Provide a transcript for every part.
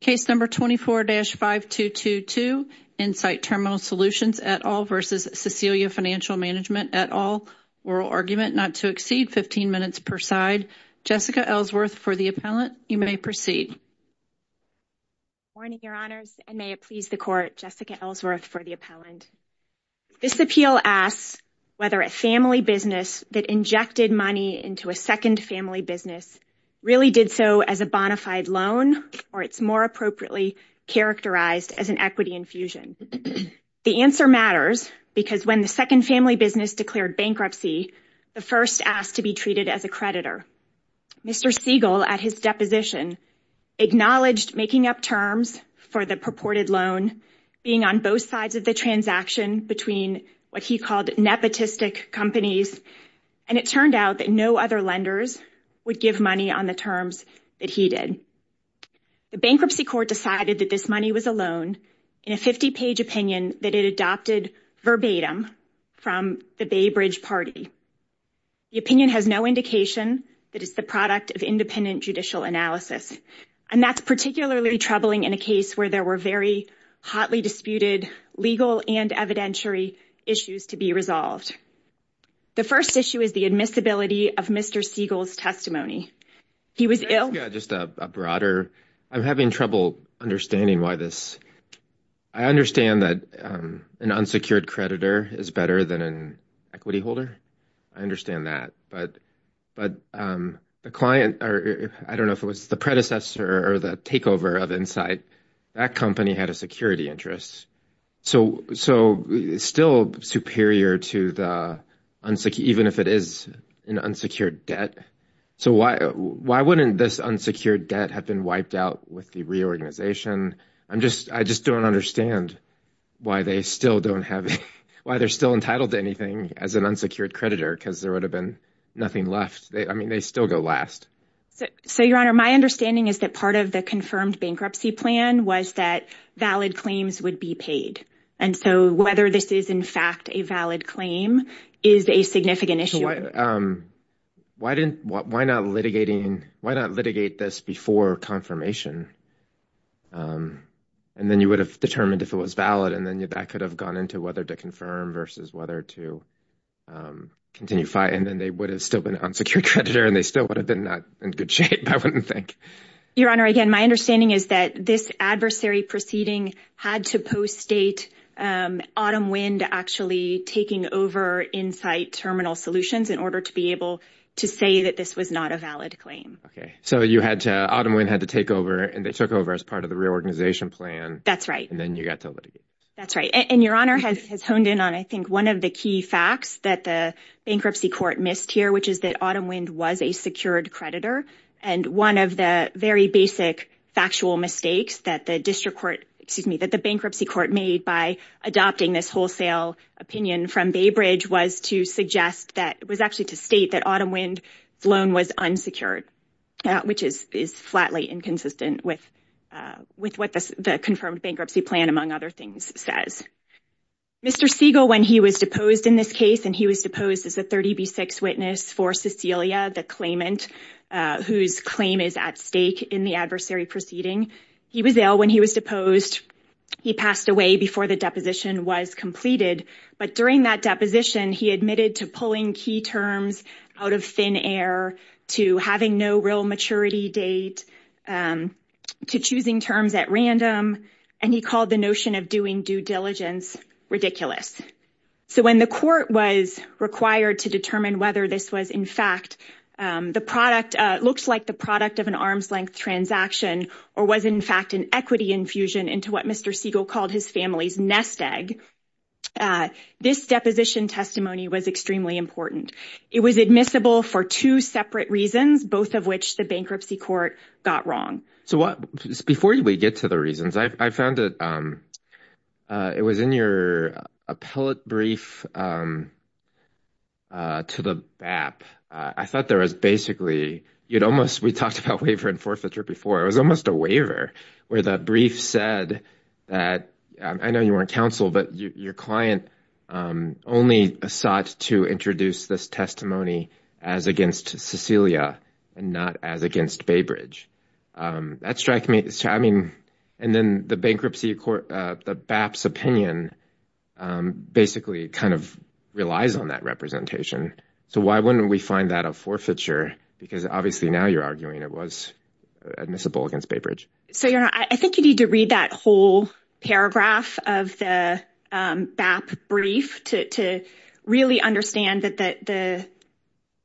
Case No. 24-5222, Insight Terminal Solutions et al. v. Cecelia Financial Mgmt. et al. Oral argument not to exceed 15 minutes per side. Jessica Ellsworth for the appellant. You may proceed. Good morning, Your Honors, and may it please the Court, Jessica Ellsworth for the appellant. This appeal asks whether a family business that injected money into a second family business really did so as a bona fide loan, or it's more appropriately characterized as an equity infusion. The answer matters because when the second family business declared bankruptcy, the first asked to be treated as a creditor. Mr. Siegel, at his deposition, acknowledged making up terms for the purported loan, being on both sides of the transaction between what he called nepotistic companies, and it turned out that no other lenders would give money on the terms that he did. The bankruptcy court decided that this money was a loan in a 50-page opinion that it adopted verbatim from the Bay Bridge Party. The opinion has no indication that it's the product of independent judicial analysis, and that's particularly troubling in a case where there were very hotly disputed legal and evidentiary issues to be resolved. The first issue is the admissibility of Mr. Siegel's testimony. He was ill. Just a broader, I'm having trouble understanding why this, I understand that an unsecured creditor is better than an equity holder. I understand that. But the client, I don't know if it was the predecessor or the takeover of Insight, that company had a security interest. So still superior to the, even if it is an unsecured debt. So why wouldn't this unsecured debt have been wiped out with the reorganization? I just don't understand why they still don't have, why they're still entitled to anything as an unsecured creditor, because there would have been nothing left. I mean, they still go last. So, Your Honor, my understanding is that part of the confirmed bankruptcy plan was that valid claims would be paid. And so whether this is in fact a valid claim is a significant issue. Why didn't, why not litigating, why not litigate this before confirmation? And then you would have determined if it was valid. And then that could have gone into whether to confirm versus whether to continue fighting. And then they would have still been an unsecured creditor and they still would have been not in good shape, I wouldn't think. Your Honor, again, my understanding is that this adversary proceeding had to post-date Autumn Wind actually taking over Insight Terminal Solutions in order to be able to say that this was not a valid claim. So you had to, Autumn Wind had to take over and they took over as part of the reorganization plan. That's right. And then you got to litigate. That's right. And Your Honor has honed in on, I think, one of the key facts that the bankruptcy court missed here, which is that Autumn Wind was a secured creditor. And one of the very basic factual mistakes that the bankruptcy court made by adopting this wholesale opinion from Baybridge was to suggest that, was actually to state that Autumn Wind's loan was unsecured, which is flatly inconsistent with what the confirmed bankruptcy plan, among other things, says. Mr. Siegel, when he was deposed in this case, and he was deposed as a 30B6 witness for Cecilia, the claimant whose claim is at stake in the adversary proceeding. He was ill when he was deposed. He passed away before the deposition was completed. But during that deposition, he admitted to pulling key terms out of thin air, to having no real maturity date, to choosing terms at random. And he called the notion of doing due diligence ridiculous. So when the court was required to determine whether this was, in fact, the product, looks like the product of an arm's length transaction or was in fact an equity infusion into what Mr. Siegel called his family's nest egg. This deposition testimony was extremely important. It was admissible for two separate reasons, both of which the bankruptcy court got wrong. Before we get to the reasons, I found it was in your appellate brief to the BAP. I thought there was basically, we talked about waiver and forfeiture before. It was almost a waiver where the brief said that, I know you weren't counsel, but your client only sought to introduce this testimony as against Cecilia and not as against Baybridge. That struck me. I mean, and then the bankruptcy court, the BAP's opinion, basically kind of relies on that representation. So why wouldn't we find that a forfeiture? Because obviously now you're arguing it was admissible against Baybridge. So, you know, I think you need to read that whole paragraph of the BAP brief to really understand that the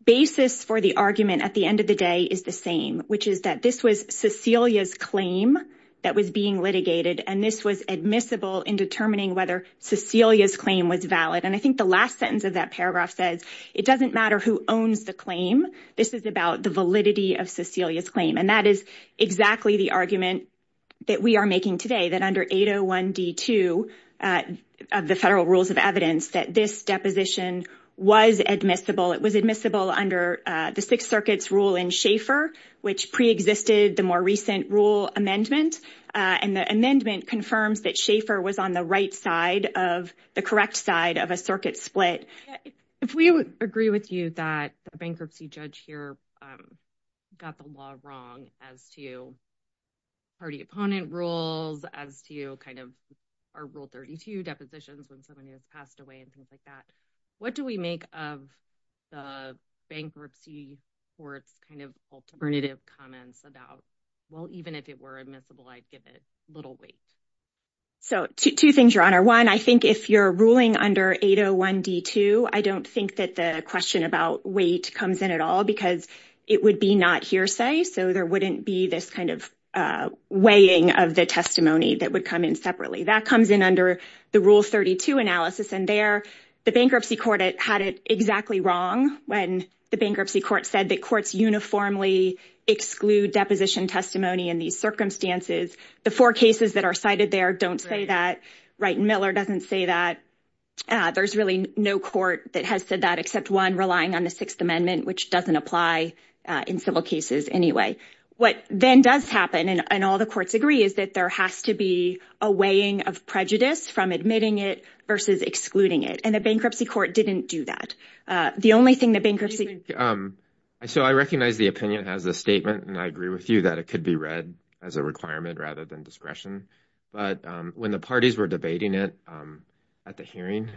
basis for the argument at the end of the day is the same, which is that this was Cecilia's claim that was being litigated. And this was admissible in determining whether Cecilia's claim was valid. And I think the last sentence of that paragraph says it doesn't matter who owns the claim. This is about the validity of Cecilia's claim. And that is exactly the argument that we are making today, that under 801D2 of the federal rules of evidence, that this deposition was admissible. It was admissible under the Sixth Circuit's rule in Schaeffer, which preexisted the more recent rule amendment. And the amendment confirms that Schaeffer was on the right side of the correct side of a circuit split. If we agree with you that a bankruptcy judge here got the law wrong as to party opponent rules, as to kind of our rule 32 depositions when somebody has passed away and things like that. What do we make of the bankruptcy court's kind of alternative comments about, well, even if it were admissible, I'd give it little weight. So two things, Your Honor. One, I think if you're ruling under 801D2, I don't think that the question about weight comes in at all because it would be not hearsay. So there wouldn't be this kind of weighing of the testimony that would come in separately. That comes in under the rule 32 analysis. And there the bankruptcy court had it exactly wrong when the bankruptcy court said that courts uniformly exclude deposition testimony in these circumstances. The four cases that are cited there don't say that. Right. Miller doesn't say that. There's really no court that has said that except one relying on the Sixth Amendment, which doesn't apply in civil cases anyway. What then does happen, and all the courts agree, is that there has to be a weighing of prejudice from admitting it versus excluding it. And the bankruptcy court didn't do that. The only thing the bankruptcy. So I recognize the opinion as a statement, and I agree with you that it could be read as a requirement rather than discretion. But when the parties were debating it at the hearing,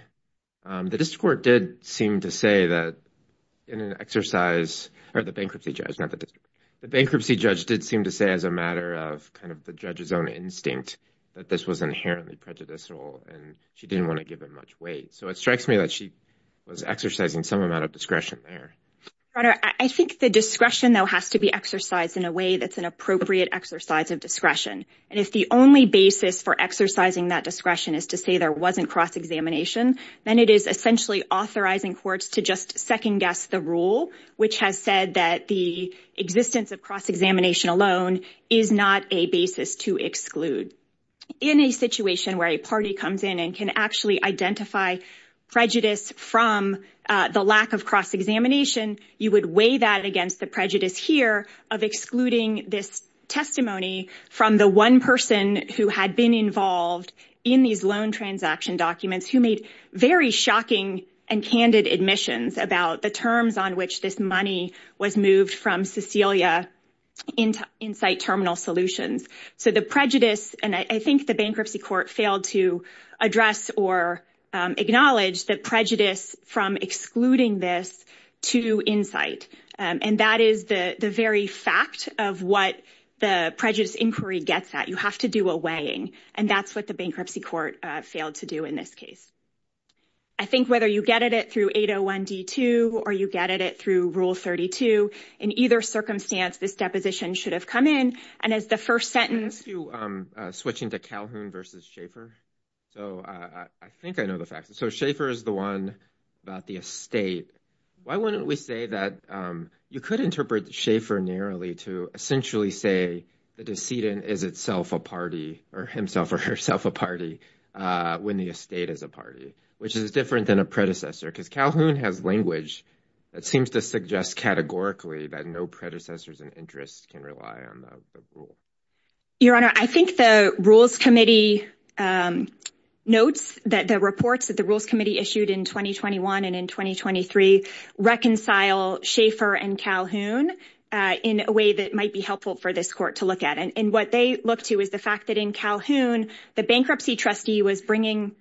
the district court did seem to say that in an exercise, or the bankruptcy judge, not the district, the bankruptcy judge did seem to say as a matter of kind of the judge's own instinct that this was inherently prejudicial and she didn't want to give it much weight. So it strikes me that she was exercising some amount of discretion there. I think the discretion, though, has to be exercised in a way that's an appropriate exercise of discretion. And if the only basis for exercising that discretion is to say there wasn't cross-examination, then it is essentially authorizing courts to just second guess the rule, which has said that the existence of cross-examination alone is not a basis to exclude. In a situation where a party comes in and can actually identify prejudice from the lack of cross-examination, you would weigh that against the prejudice here of excluding this testimony from the one person who had been involved in these loan transaction documents who made very shocking and candid admissions about the terms on which this money was moved from Cecilia into Insight Terminal Solutions. So the prejudice, and I think the bankruptcy court failed to address or acknowledge the prejudice from excluding this to Insight. And that is the very fact of what the prejudice inquiry gets at. You have to do a weighing, and that's what the bankruptcy court failed to do in this case. I think whether you get at it through 801D2 or you get at it through Rule 32, in either circumstance, this deposition should have come in. And as the first sentence... Can I ask you, switching to Calhoun versus Schaeffer? So I think I know the facts. So Schaeffer is the one about the estate. Why wouldn't we say that you could interpret Schaeffer narrowly to essentially say the decedent is itself a party or himself or herself a party when the estate is a party, which is different than a predecessor, because Calhoun has language that seems to suggest categorically that no predecessors and interests can rely on the rule. Your Honor, I think the Rules Committee notes that the reports that the Rules Committee issued in 2021 and in 2023 reconcile Schaeffer and Calhoun in a way that might be helpful for this court to look at. And what they look to is the fact that in Calhoun, the bankruptcy trustee was bringing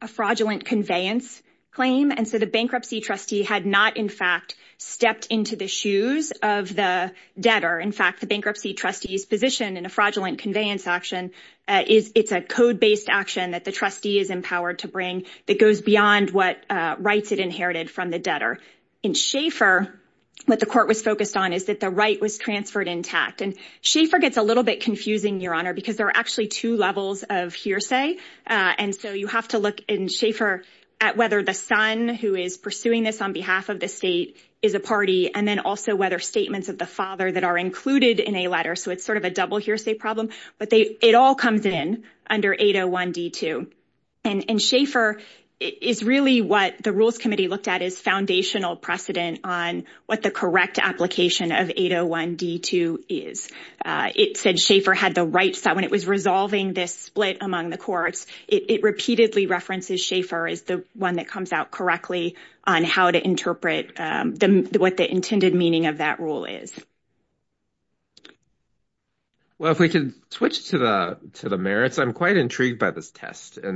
a fraudulent conveyance claim. And so the bankruptcy trustee had not, in fact, stepped into the shoes of the debtor. In fact, the bankruptcy trustee's position in a fraudulent conveyance action is it's a code-based action that the trustee is empowered to bring that goes beyond what rights it inherited from the debtor. In Schaeffer, what the court was focused on is that the right was transferred intact. And Schaeffer gets a little bit confusing, Your Honor, because there are actually two levels of hearsay. And so you have to look in Schaeffer at whether the son who is pursuing this on behalf of the state is a party, and then also whether statements of the father that are included in a letter. So it's sort of a double hearsay problem. But it all comes in under 801D2. And Schaeffer is really what the Rules Committee looked at as foundational precedent on what the correct application of 801D2 is. It said Schaeffer had the rights that when it was resolving this split among the courts, it repeatedly references Schaeffer as the one that comes out correctly on how to interpret what the intended meaning of that rule is. Well, if we could switch to the merits, I'm quite intrigued by this test. I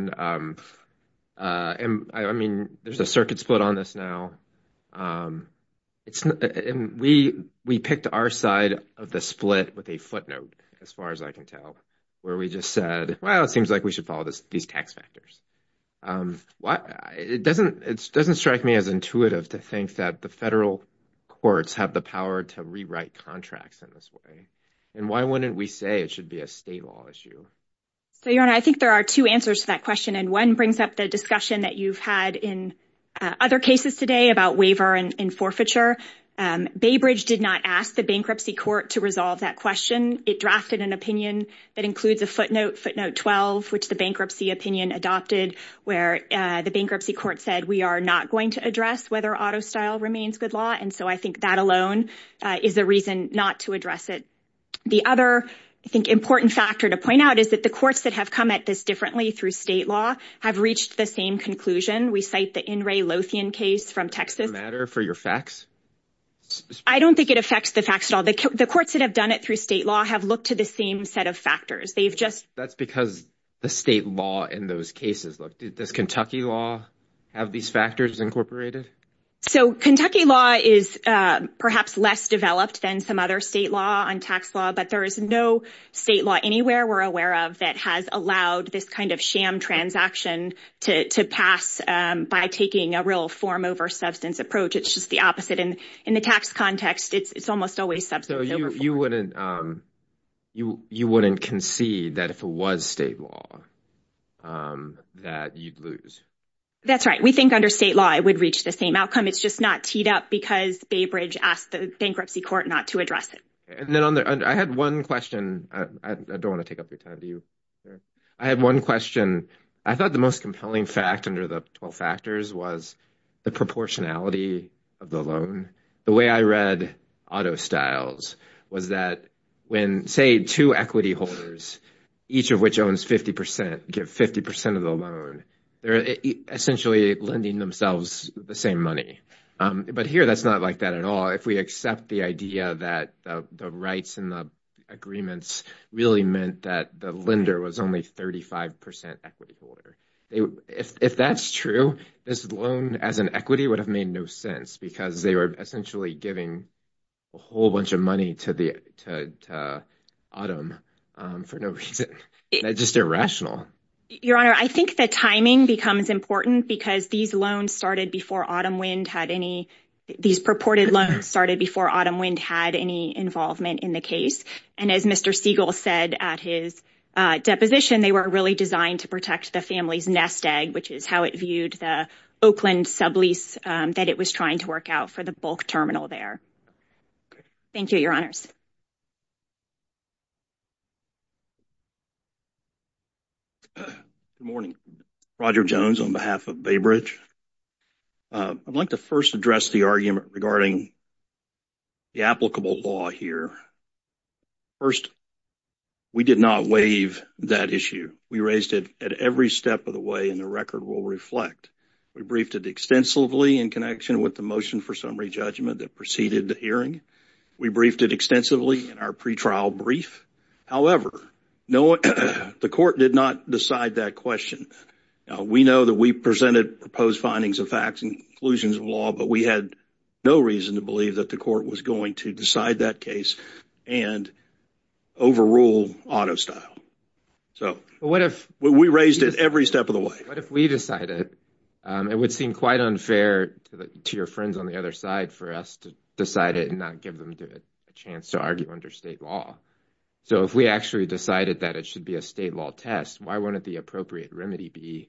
mean, there's a circuit split on this now. And we picked our side of the split with a footnote, as far as I can tell, where we just said, well, it seems like we should follow these tax factors. It doesn't strike me as intuitive to think that the federal courts have the power to rewrite contracts in this way. And why wouldn't we say it should be a state law issue? So, Your Honor, I think there are two answers to that question. And one brings up the discussion that you've had in other cases today about waiver and forfeiture. Baybridge did not ask the bankruptcy court to resolve that question. It drafted an opinion that includes a footnote, footnote 12, which the bankruptcy opinion adopted, where the bankruptcy court said we are not going to address whether auto style remains good law. And so I think that alone is a reason not to address it. The other, I think, important factor to point out is that the courts that have come at this differently through state law have reached the same conclusion. We cite the In re Lothian case from Texas. Does it matter for your facts? I don't think it affects the facts at all. The courts that have done it through state law have looked to the same set of factors. That's because the state law in those cases. Does Kentucky law have these factors incorporated? So Kentucky law is perhaps less developed than some other state law on tax law. But there is no state law anywhere we're aware of that has allowed this kind of sham transaction to pass by taking a real form over substance approach. It's just the opposite. And in the tax context, it's almost always substance. You wouldn't concede that if it was state law that you'd lose. That's right. We think under state law it would reach the same outcome. It's just not teed up because Baybridge asked the bankruptcy court not to address it. I had one question. I don't want to take up your time. Do you? I have one question. I thought the most compelling fact under the 12 factors was the proportionality of the loan. The way I read auto styles was that when, say, two equity holders, each of which owns 50%, give 50% of the loan. They're essentially lending themselves the same money. But here that's not like that at all. If we accept the idea that the rights and the agreements really meant that the lender was only 35% equity holder. If that's true, this loan as an equity would have made no sense because they were essentially giving a whole bunch of money to Autumn for no reason. That's just irrational. Your Honor, I think the timing becomes important because these loans started before Autumn Wind had any – these purported loans started before Autumn Wind had any involvement in the case. And as Mr. Siegel said at his deposition, they were really designed to protect the family's nest egg, which is how it viewed the Oakland sublease that it was trying to work out for the bulk terminal there. Thank you, Your Honors. Good morning. Roger Jones on behalf of Baybridge. I'd like to first address the argument regarding the applicable law here. First, we did not waive that issue. We raised it at every step of the way, and the record will reflect. We briefed it extensively in connection with the motion for summary judgment that preceded the hearing. We briefed it extensively in our pretrial brief. However, the court did not decide that question. We know that we presented proposed findings of facts and conclusions of law, but we had no reason to believe that the court was going to decide that case and overrule auto style. So we raised it every step of the way. But if we decided it would seem quite unfair to your friends on the other side for us to decide it and not give them a chance to argue under state law. So if we actually decided that it should be a state law test, why wouldn't the appropriate remedy be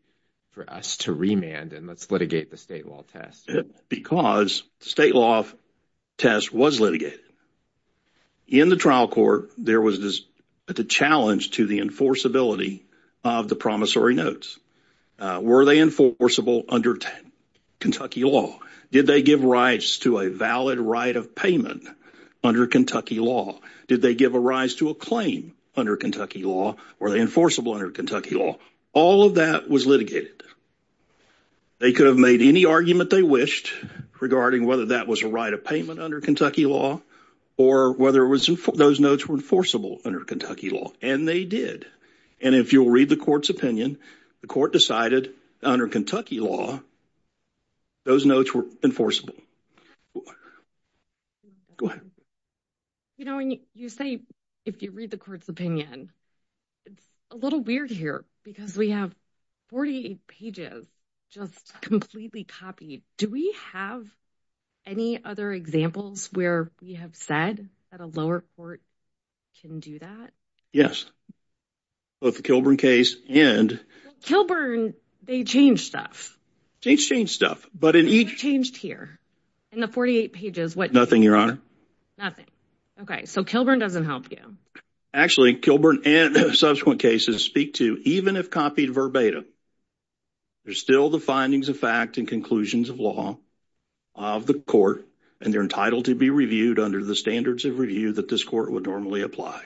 for us to remand and let's litigate the state law test? Because state law test was litigated. In the trial court, there was a challenge to the enforceability of the promissory notes. Were they enforceable under Kentucky law? Did they give rights to a valid right of payment under Kentucky law? Did they give a rise to a claim under Kentucky law? Were they enforceable under Kentucky law? All of that was litigated. They could have made any argument they wished regarding whether that was a right of payment under Kentucky law or whether those notes were enforceable under Kentucky law. And they did. And if you'll read the court's opinion, the court decided under Kentucky law, those notes were enforceable. Go ahead. You know, you say if you read the court's opinion, it's a little weird here because we have 48 pages just completely copied. Do we have any other examples where we have said that a lower court can do that? Yes. Both the Kilburn case and… Kilburn, they changed stuff. They changed stuff. What did you change here in the 48 pages? Nothing, Your Honor. Nothing. Okay. So Kilburn doesn't help you. Actually, Kilburn and subsequent cases speak to even if copied verbatim, there's still the findings of fact and conclusions of law of the court, and they're entitled to be reviewed under the standards of review that this court would normally apply.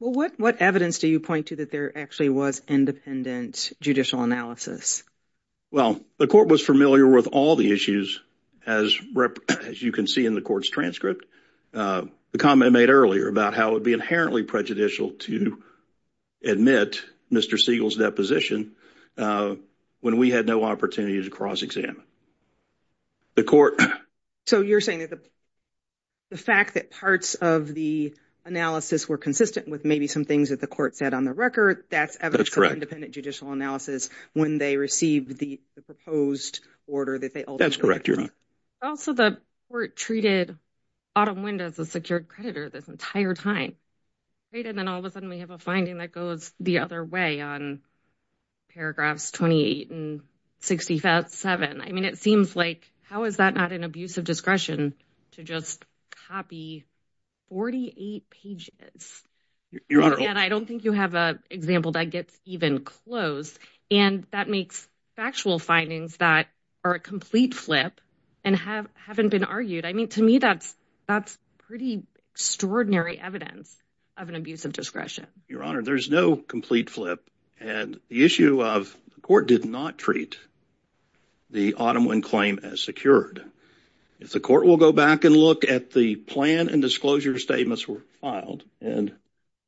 Well, what evidence do you point to that there actually was independent judicial analysis? Well, the court was familiar with all the issues, as you can see in the court's transcript. The comment made earlier about how it would be inherently prejudicial to admit Mr. Siegel's deposition when we had no opportunity to cross-examine. The court… So you're saying that the fact that parts of the analysis were consistent with maybe some things that the court said on the record, that's evidence of independent judicial analysis when they received the proposed order that they ultimately… That's correct, Your Honor. Also, the court treated Autumn Wind as a secured creditor this entire time, and then all of a sudden we have a finding that goes the other way on paragraphs 28 and 67. I mean, it seems like how is that not an abuse of discretion to just copy 48 pages? Your Honor… Again, I don't think you have an example that gets even close, and that makes factual findings that are a complete flip and haven't been argued. I mean, to me, that's pretty extraordinary evidence of an abuse of discretion. Your Honor, there's no complete flip, and the issue of the court did not treat the Autumn Wind claim as secured. If the court will go back and look at the plan and disclosure statements were filed, and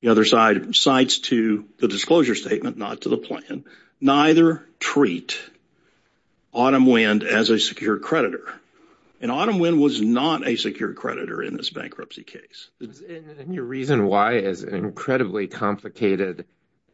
the other side cites to the disclosure statement, not to the plan, neither treat Autumn Wind as a secured creditor, and Autumn Wind was not a secured creditor in this bankruptcy case. And your reason why is incredibly complicated.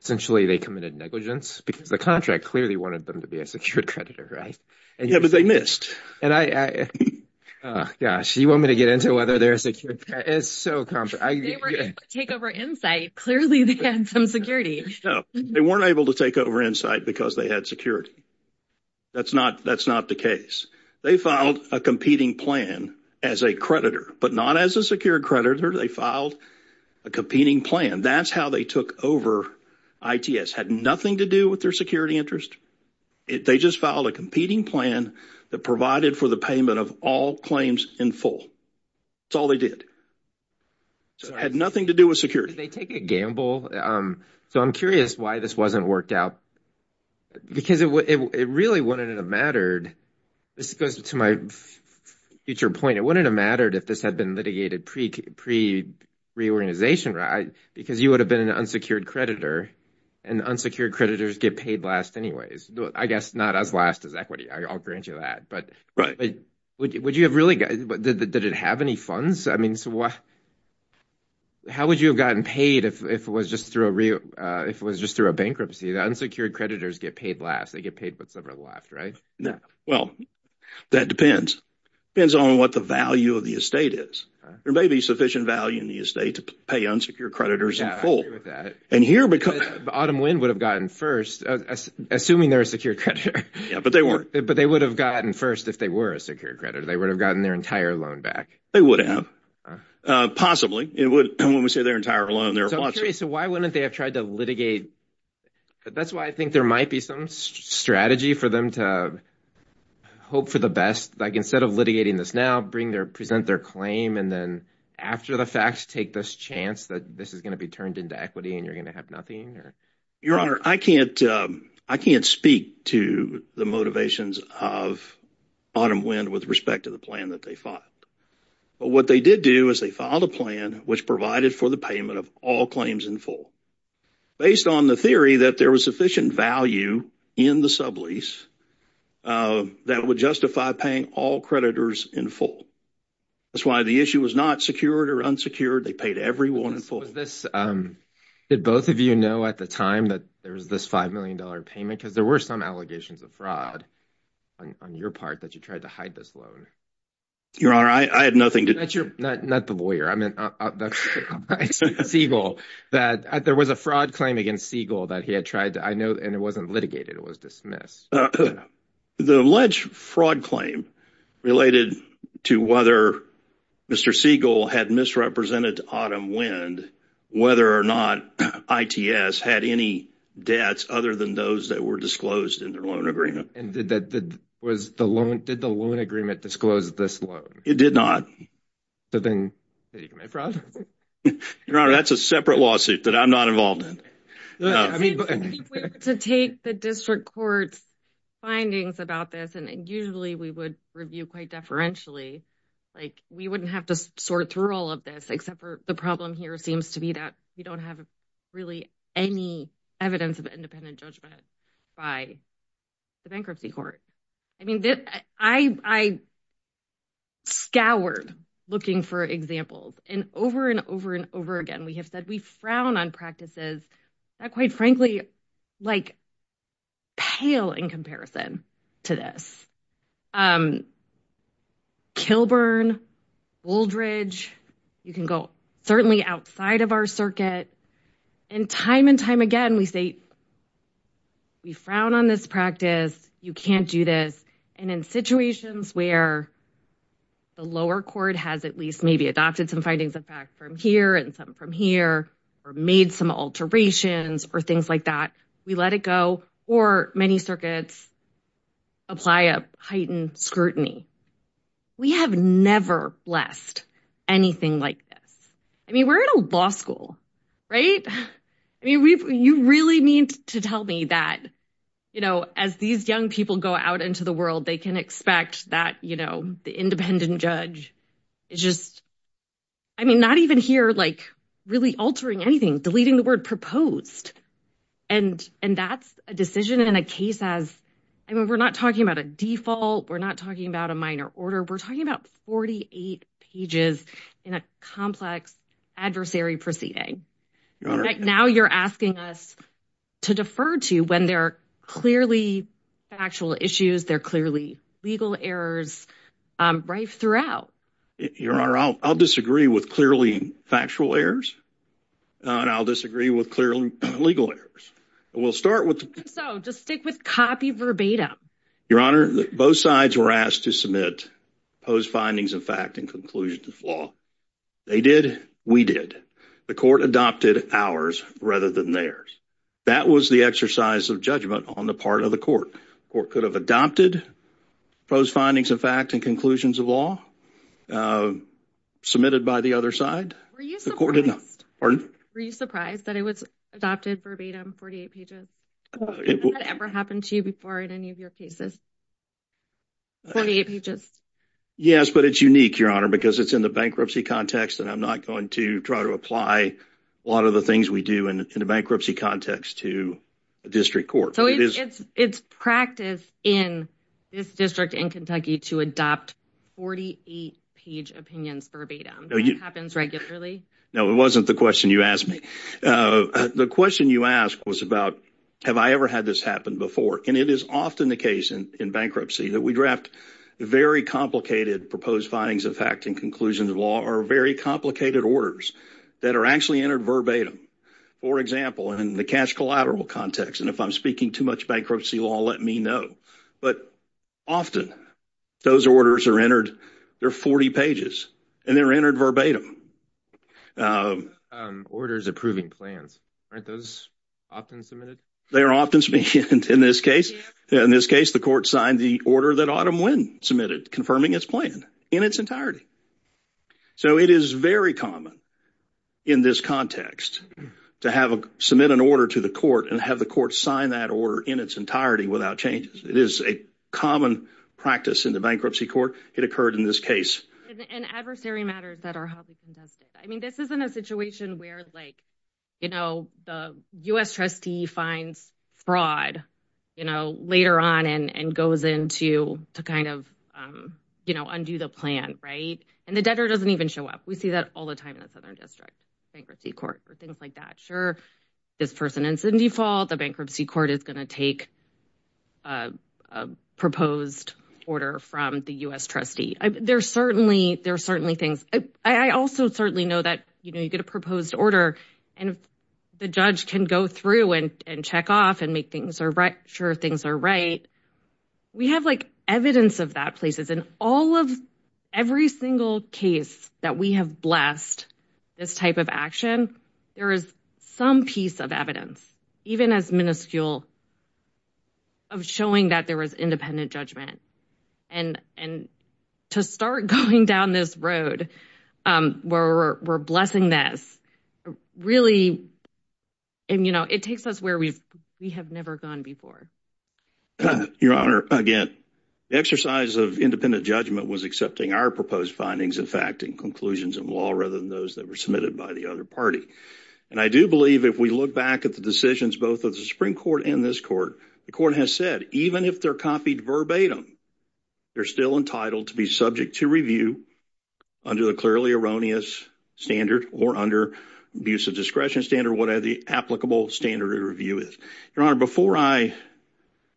Essentially, they committed negligence because the contract clearly wanted them to be a secured creditor, right? Yeah, but they missed. Gosh, you want me to get into whether they're a secured creditor? It's so complicated. They were able to take over Insight. Clearly, they had some security. No, they weren't able to take over Insight because they had security. That's not the case. They filed a competing plan as a creditor, but not as a secured creditor. They filed a competing plan. That's how they took over ITS. It had nothing to do with their security interest. They just filed a competing plan that provided for the payment of all claims in full. That's all they did. It had nothing to do with security. Did they take a gamble? So I'm curious why this wasn't worked out because it really wouldn't have mattered. This goes to my future point. It wouldn't have mattered if this had been litigated pre-reorganization, right? Because you would have been an unsecured creditor, and unsecured creditors get paid last anyways. I guess not as last as equity. I'll grant you that. Did it have any funds? How would you have gotten paid if it was just through a bankruptcy? Unsecured creditors get paid last. They get paid what's left, right? Well, that depends. It depends on what the value of the estate is. There may be sufficient value in the estate to pay unsecured creditors in full. Autumn Wind would have gotten first, assuming they're a secured creditor. Yeah, but they weren't. But they would have gotten first if they were a secured creditor. They would have gotten their entire loan back. They would have. Possibly. When we say their entire loan, there are lots of them. So I'm curious, why wouldn't they have tried to litigate? That's why I think there might be some strategy for them to hope for the best. Instead of litigating this now, present their claim and then after the facts, take this chance that this is going to be turned into equity and you're going to have nothing? Your Honor, I can't speak to the motivations of Autumn Wind with respect to the plan that they filed. But what they did do is they filed a plan which provided for the payment of all claims in full. Based on the theory that there was sufficient value in the sublease that would justify paying all creditors in full. That's why the issue was not secured or unsecured. They paid everyone in full. Did both of you know at the time that there was this $5 million payment? Because there were some allegations of fraud on your part that you tried to hide this loan. Your Honor, I had nothing to – Not the lawyer. There was a fraud claim against Siegel that he had tried to – and it wasn't litigated. It was dismissed. The alleged fraud claim related to whether Mr. Siegel had misrepresented Autumn Wind, whether or not ITS had any debts other than those that were disclosed in their loan agreement. Did the loan agreement disclose this loan? It did not. Did he commit fraud? Your Honor, that's a separate lawsuit that I'm not involved in. To take the district court's findings about this, and usually we would review quite deferentially, like we wouldn't have to sort through all of this except for the problem here seems to be that we don't have really any evidence of independent judgment by the bankruptcy court. I scoured looking for examples, and over and over and over again we have said we frown on practices that quite frankly like pale in comparison to this. Kilburn, Bouldridge, you can go certainly outside of our circuit. And time and time again we say we frown on this practice. You can't do this. And in situations where the lower court has at least maybe adopted some findings in fact from here and some from here or made some alterations or things like that, we let it go. Or many circuits apply a heightened scrutiny. We have never blessed anything like this. I mean, we're in a law school, right? I mean, you really need to tell me that, you know, as these young people go out into the world, they can expect that, you know, the independent judge is just, I mean, not even here, like really altering anything, deleting the word proposed. And that's a decision in a case as, I mean, we're not talking about a default. We're not talking about a minor order. We're talking about 48 pages in a complex adversary proceeding. Now you're asking us to defer to when there are clearly factual issues, there are clearly legal errors rife throughout. Your Honor, I'll disagree with clearly factual errors. And I'll disagree with clearly legal errors. We'll start with. So just stick with copy verbatim. Your Honor, both sides were asked to submit post findings of fact and conclusions of law. They did. We did. The court adopted ours rather than theirs. That was the exercise of judgment on the part of the court. The court could have adopted post findings of fact and conclusions of law submitted by the other side. Were you surprised that it was adopted verbatim, 48 pages? Has that ever happened to you before in any of your cases, 48 pages? Yes, but it's unique, Your Honor, because it's in the bankruptcy context, and I'm not going to try to apply a lot of the things we do in a bankruptcy context to a district court. So it's practice in this district in Kentucky to adopt 48-page opinions verbatim. That happens regularly? No, it wasn't the question you asked me. The question you asked was about have I ever had this happen before, and it is often the case in bankruptcy that we draft very complicated proposed findings of fact and conclusions of law or very complicated orders that are actually entered verbatim. For example, in the cash collateral context, and if I'm speaking too much bankruptcy law, let me know, but often those orders are entered. They're 40 pages, and they're entered verbatim. Orders approving plans, aren't those often submitted? They are often submitted in this case. In this case, the court signed the order that Autumn Wynn submitted confirming its plan in its entirety. So it is very common in this context to submit an order to the court and have the court sign that order in its entirety without changes. It is a common practice in the bankruptcy court. It occurred in this case. And adversary matters that are highly contested. I mean, this isn't a situation where, like, you know, the U.S. trustee finds fraud, you know, later on and goes in to kind of, you know, undo the plan, right? And the debtor doesn't even show up. We see that all the time in the Southern District Bankruptcy Court or things like that. Sure, this person is in default. The bankruptcy court is going to take a proposed order from the U.S. trustee. There are certainly things. I also certainly know that, you know, you get a proposed order and the judge can go through and check off and make sure things are right. We have, like, evidence of that places. In all of every single case that we have blessed this type of action, there is some piece of evidence, even as minuscule, of showing that there was independent judgment. And to start going down this road where we're blessing this really, you know, it takes us where we have never gone before. Your Honor, again, the exercise of independent judgment was accepting our proposed findings and fact and conclusions in law rather than those that were submitted by the other party. And I do believe if we look back at the decisions both of the Supreme Court and this court, the court has said even if they're copied verbatim, they're still entitled to be subject to review under the clearly erroneous standard or under abuse of discretion standard, whatever the applicable standard of review is. Your Honor, before I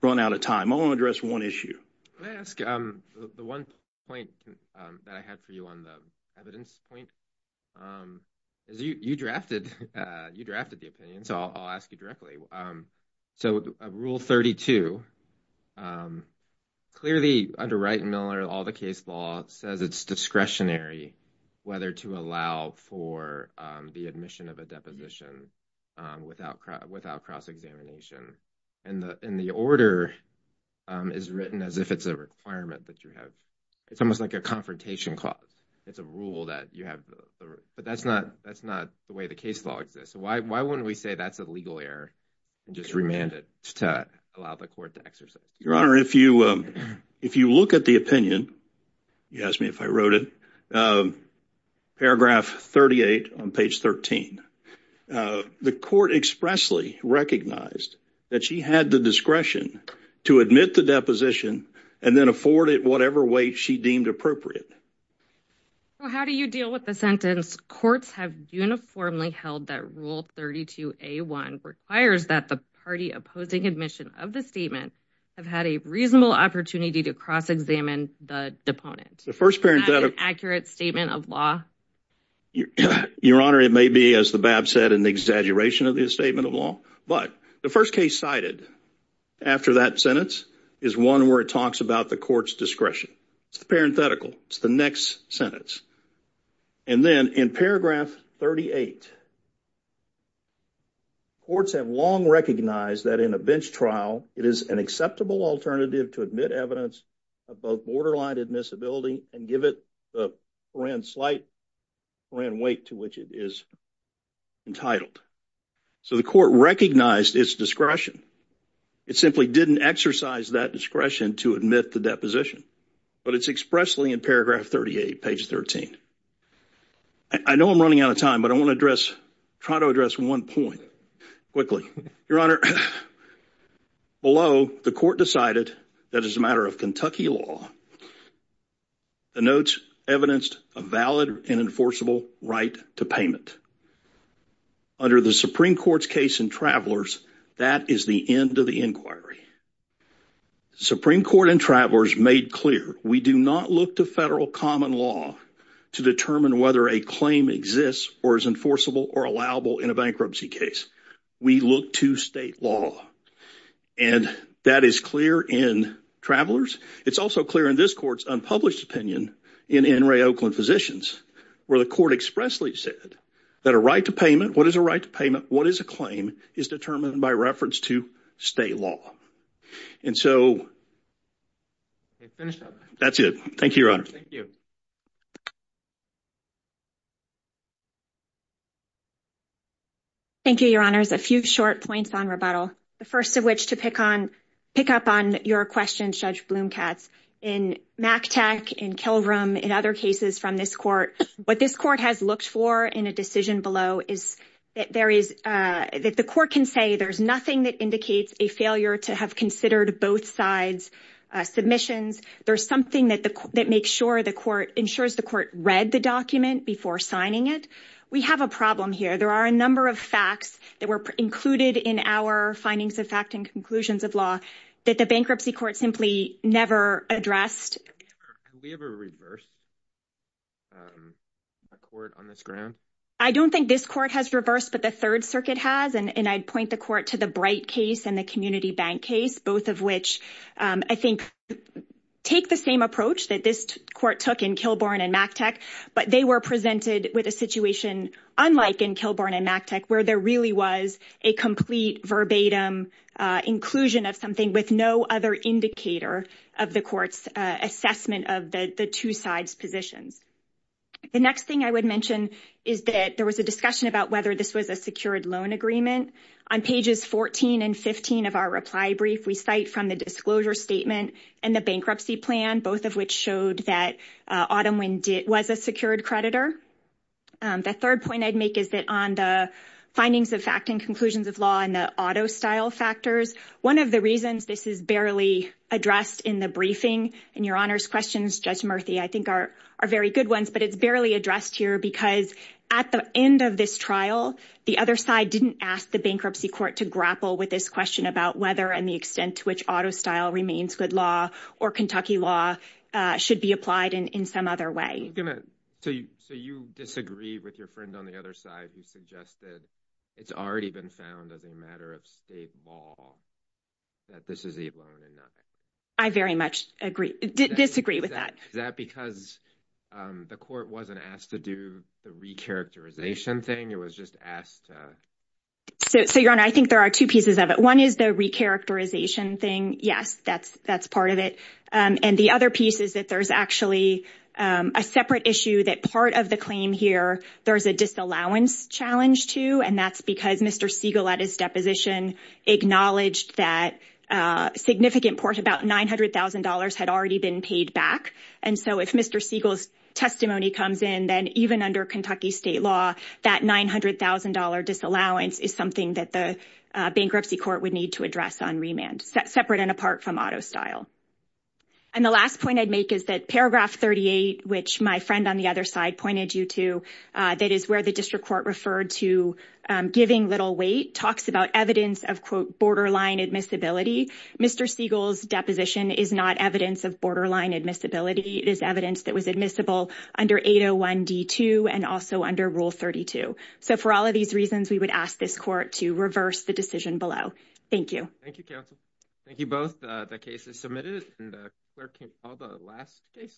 run out of time, I want to address one issue. Can I ask the one point that I had for you on the evidence point? You drafted the opinion, so I'll ask you directly. So Rule 32, clearly under Wright and Miller, all the case law says it's discretionary whether to allow for the admission of a deposition without cross-examination. And the order is written as if it's a requirement that you have. It's almost like a confrontation clause. It's a rule that you have, but that's not the way the case law exists. So why wouldn't we say that's a legal error and just remand it to allow the court to exercise? Your Honor, if you look at the opinion, you ask me if I wrote it, paragraph 38 on page 13, the court expressly recognized that she had the discretion to admit the deposition and then afford it whatever way she deemed appropriate. Well, how do you deal with the sentence, courts have uniformly held that Rule 32A1 requires that the party opposing admission of the statement have had a reasonable opportunity to cross-examine the deponent. Is that an accurate statement of law? Your Honor, it may be, as the BAP said, an exaggeration of the statement of law, but the first case cited after that sentence is one where it talks about the court's discretion. It's the parenthetical. It's the next sentence. And then in paragraph 38, courts have long recognized that in a bench trial, it is an acceptable alternative to admit evidence of both borderline admissibility and give it the forensic weight to which it is entitled. So the court recognized its discretion. It simply didn't exercise that discretion to admit the deposition, but it's expressly in paragraph 38, page 13. I know I'm running out of time, but I want to try to address one point quickly. Your Honor, below, the court decided that as a matter of Kentucky law, the notes evidenced a valid and enforceable right to payment. Under the Supreme Court's case in Travelers, that is the end of the inquiry. The Supreme Court in Travelers made clear we do not look to federal common law to determine whether a claim exists or is enforceable or allowable in a bankruptcy case. We look to state law, and that is clear in Travelers. It's also clear in this court's unpublished opinion in N. Ray Oakland Physicians where the court expressly said that a right to payment, what is a right to payment, what is a claim, is determined by reference to state law. And so that's it. Thank you, Your Honor. Thank you. Thank you, Your Honors. A few short points on rebuttal, the first of which to pick up on your question, Judge Bloom-Katz. In McTagg, in Kilgram, in other cases from this court, what this court has looked for in a decision below is that the court can say there's nothing that indicates a failure to have considered both sides' submissions. There's something that ensures the court read the document before signing it. We have a problem here. There are a number of facts that were included in our findings of fact and conclusions of law that the bankruptcy court simply never addressed. Have we ever reversed a court on this ground? I don't think this court has reversed, but the Third Circuit has, and I'd point the court to the Bright case and the Community Bank case, both of which I think take the same approach that this court took in Kilborne and McTagg, but they were presented with a situation unlike in Kilborne and McTagg where there really was a complete verbatim inclusion of something with no other indicator of the court's assessment of the two sides' positions. The next thing I would mention is that there was a discussion about whether this was a secured loan agreement. On pages 14 and 15 of our reply brief, we cite from the disclosure statement and the bankruptcy plan, both of which showed that Autumn Wynn was a secured creditor. The third point I'd make is that on the findings of fact and conclusions of law and the auto style factors, one of the reasons this is barely addressed in the briefing in your Honor's questions, Judge Murthy, I think are very good ones, but it's barely addressed here because at the end of this trial, the other side didn't ask the bankruptcy court to grapple with this question about whether and the extent to which auto style remains good law or Kentucky law should be applied in some other way. So you disagree with your friend on the other side who suggested it's already been found as a matter of state law that this is a loan and nothing? I very much disagree with that. Is that because the court wasn't asked to do the recharacterization thing? It was just asked to? So Your Honor, I think there are two pieces of it. One is the recharacterization thing. Yes, that's part of it. And the other piece is that there's actually a separate issue that part of the claim here, there is a disallowance challenge to, and that's because Mr. Siegel, at his deposition, acknowledged that significant portion, about $900,000, had already been paid back. And so if Mr. Siegel's testimony comes in, then even under Kentucky state law, that $900,000 disallowance is something that the bankruptcy court would need to address on remand, separate and apart from auto style. And the last point I'd make is that paragraph 38, which my friend on the other side pointed you to, that is where the district court referred to giving little weight, talks about evidence of, quote, borderline admissibility. Mr. Siegel's deposition is not evidence of borderline admissibility. It is evidence that was admissible under 801D2 and also under Rule 32. So for all of these reasons, we would ask this court to reverse the decision below. Thank you. Thank you, counsel. Thank you both. The case is submitted. And the clerk can call the last case.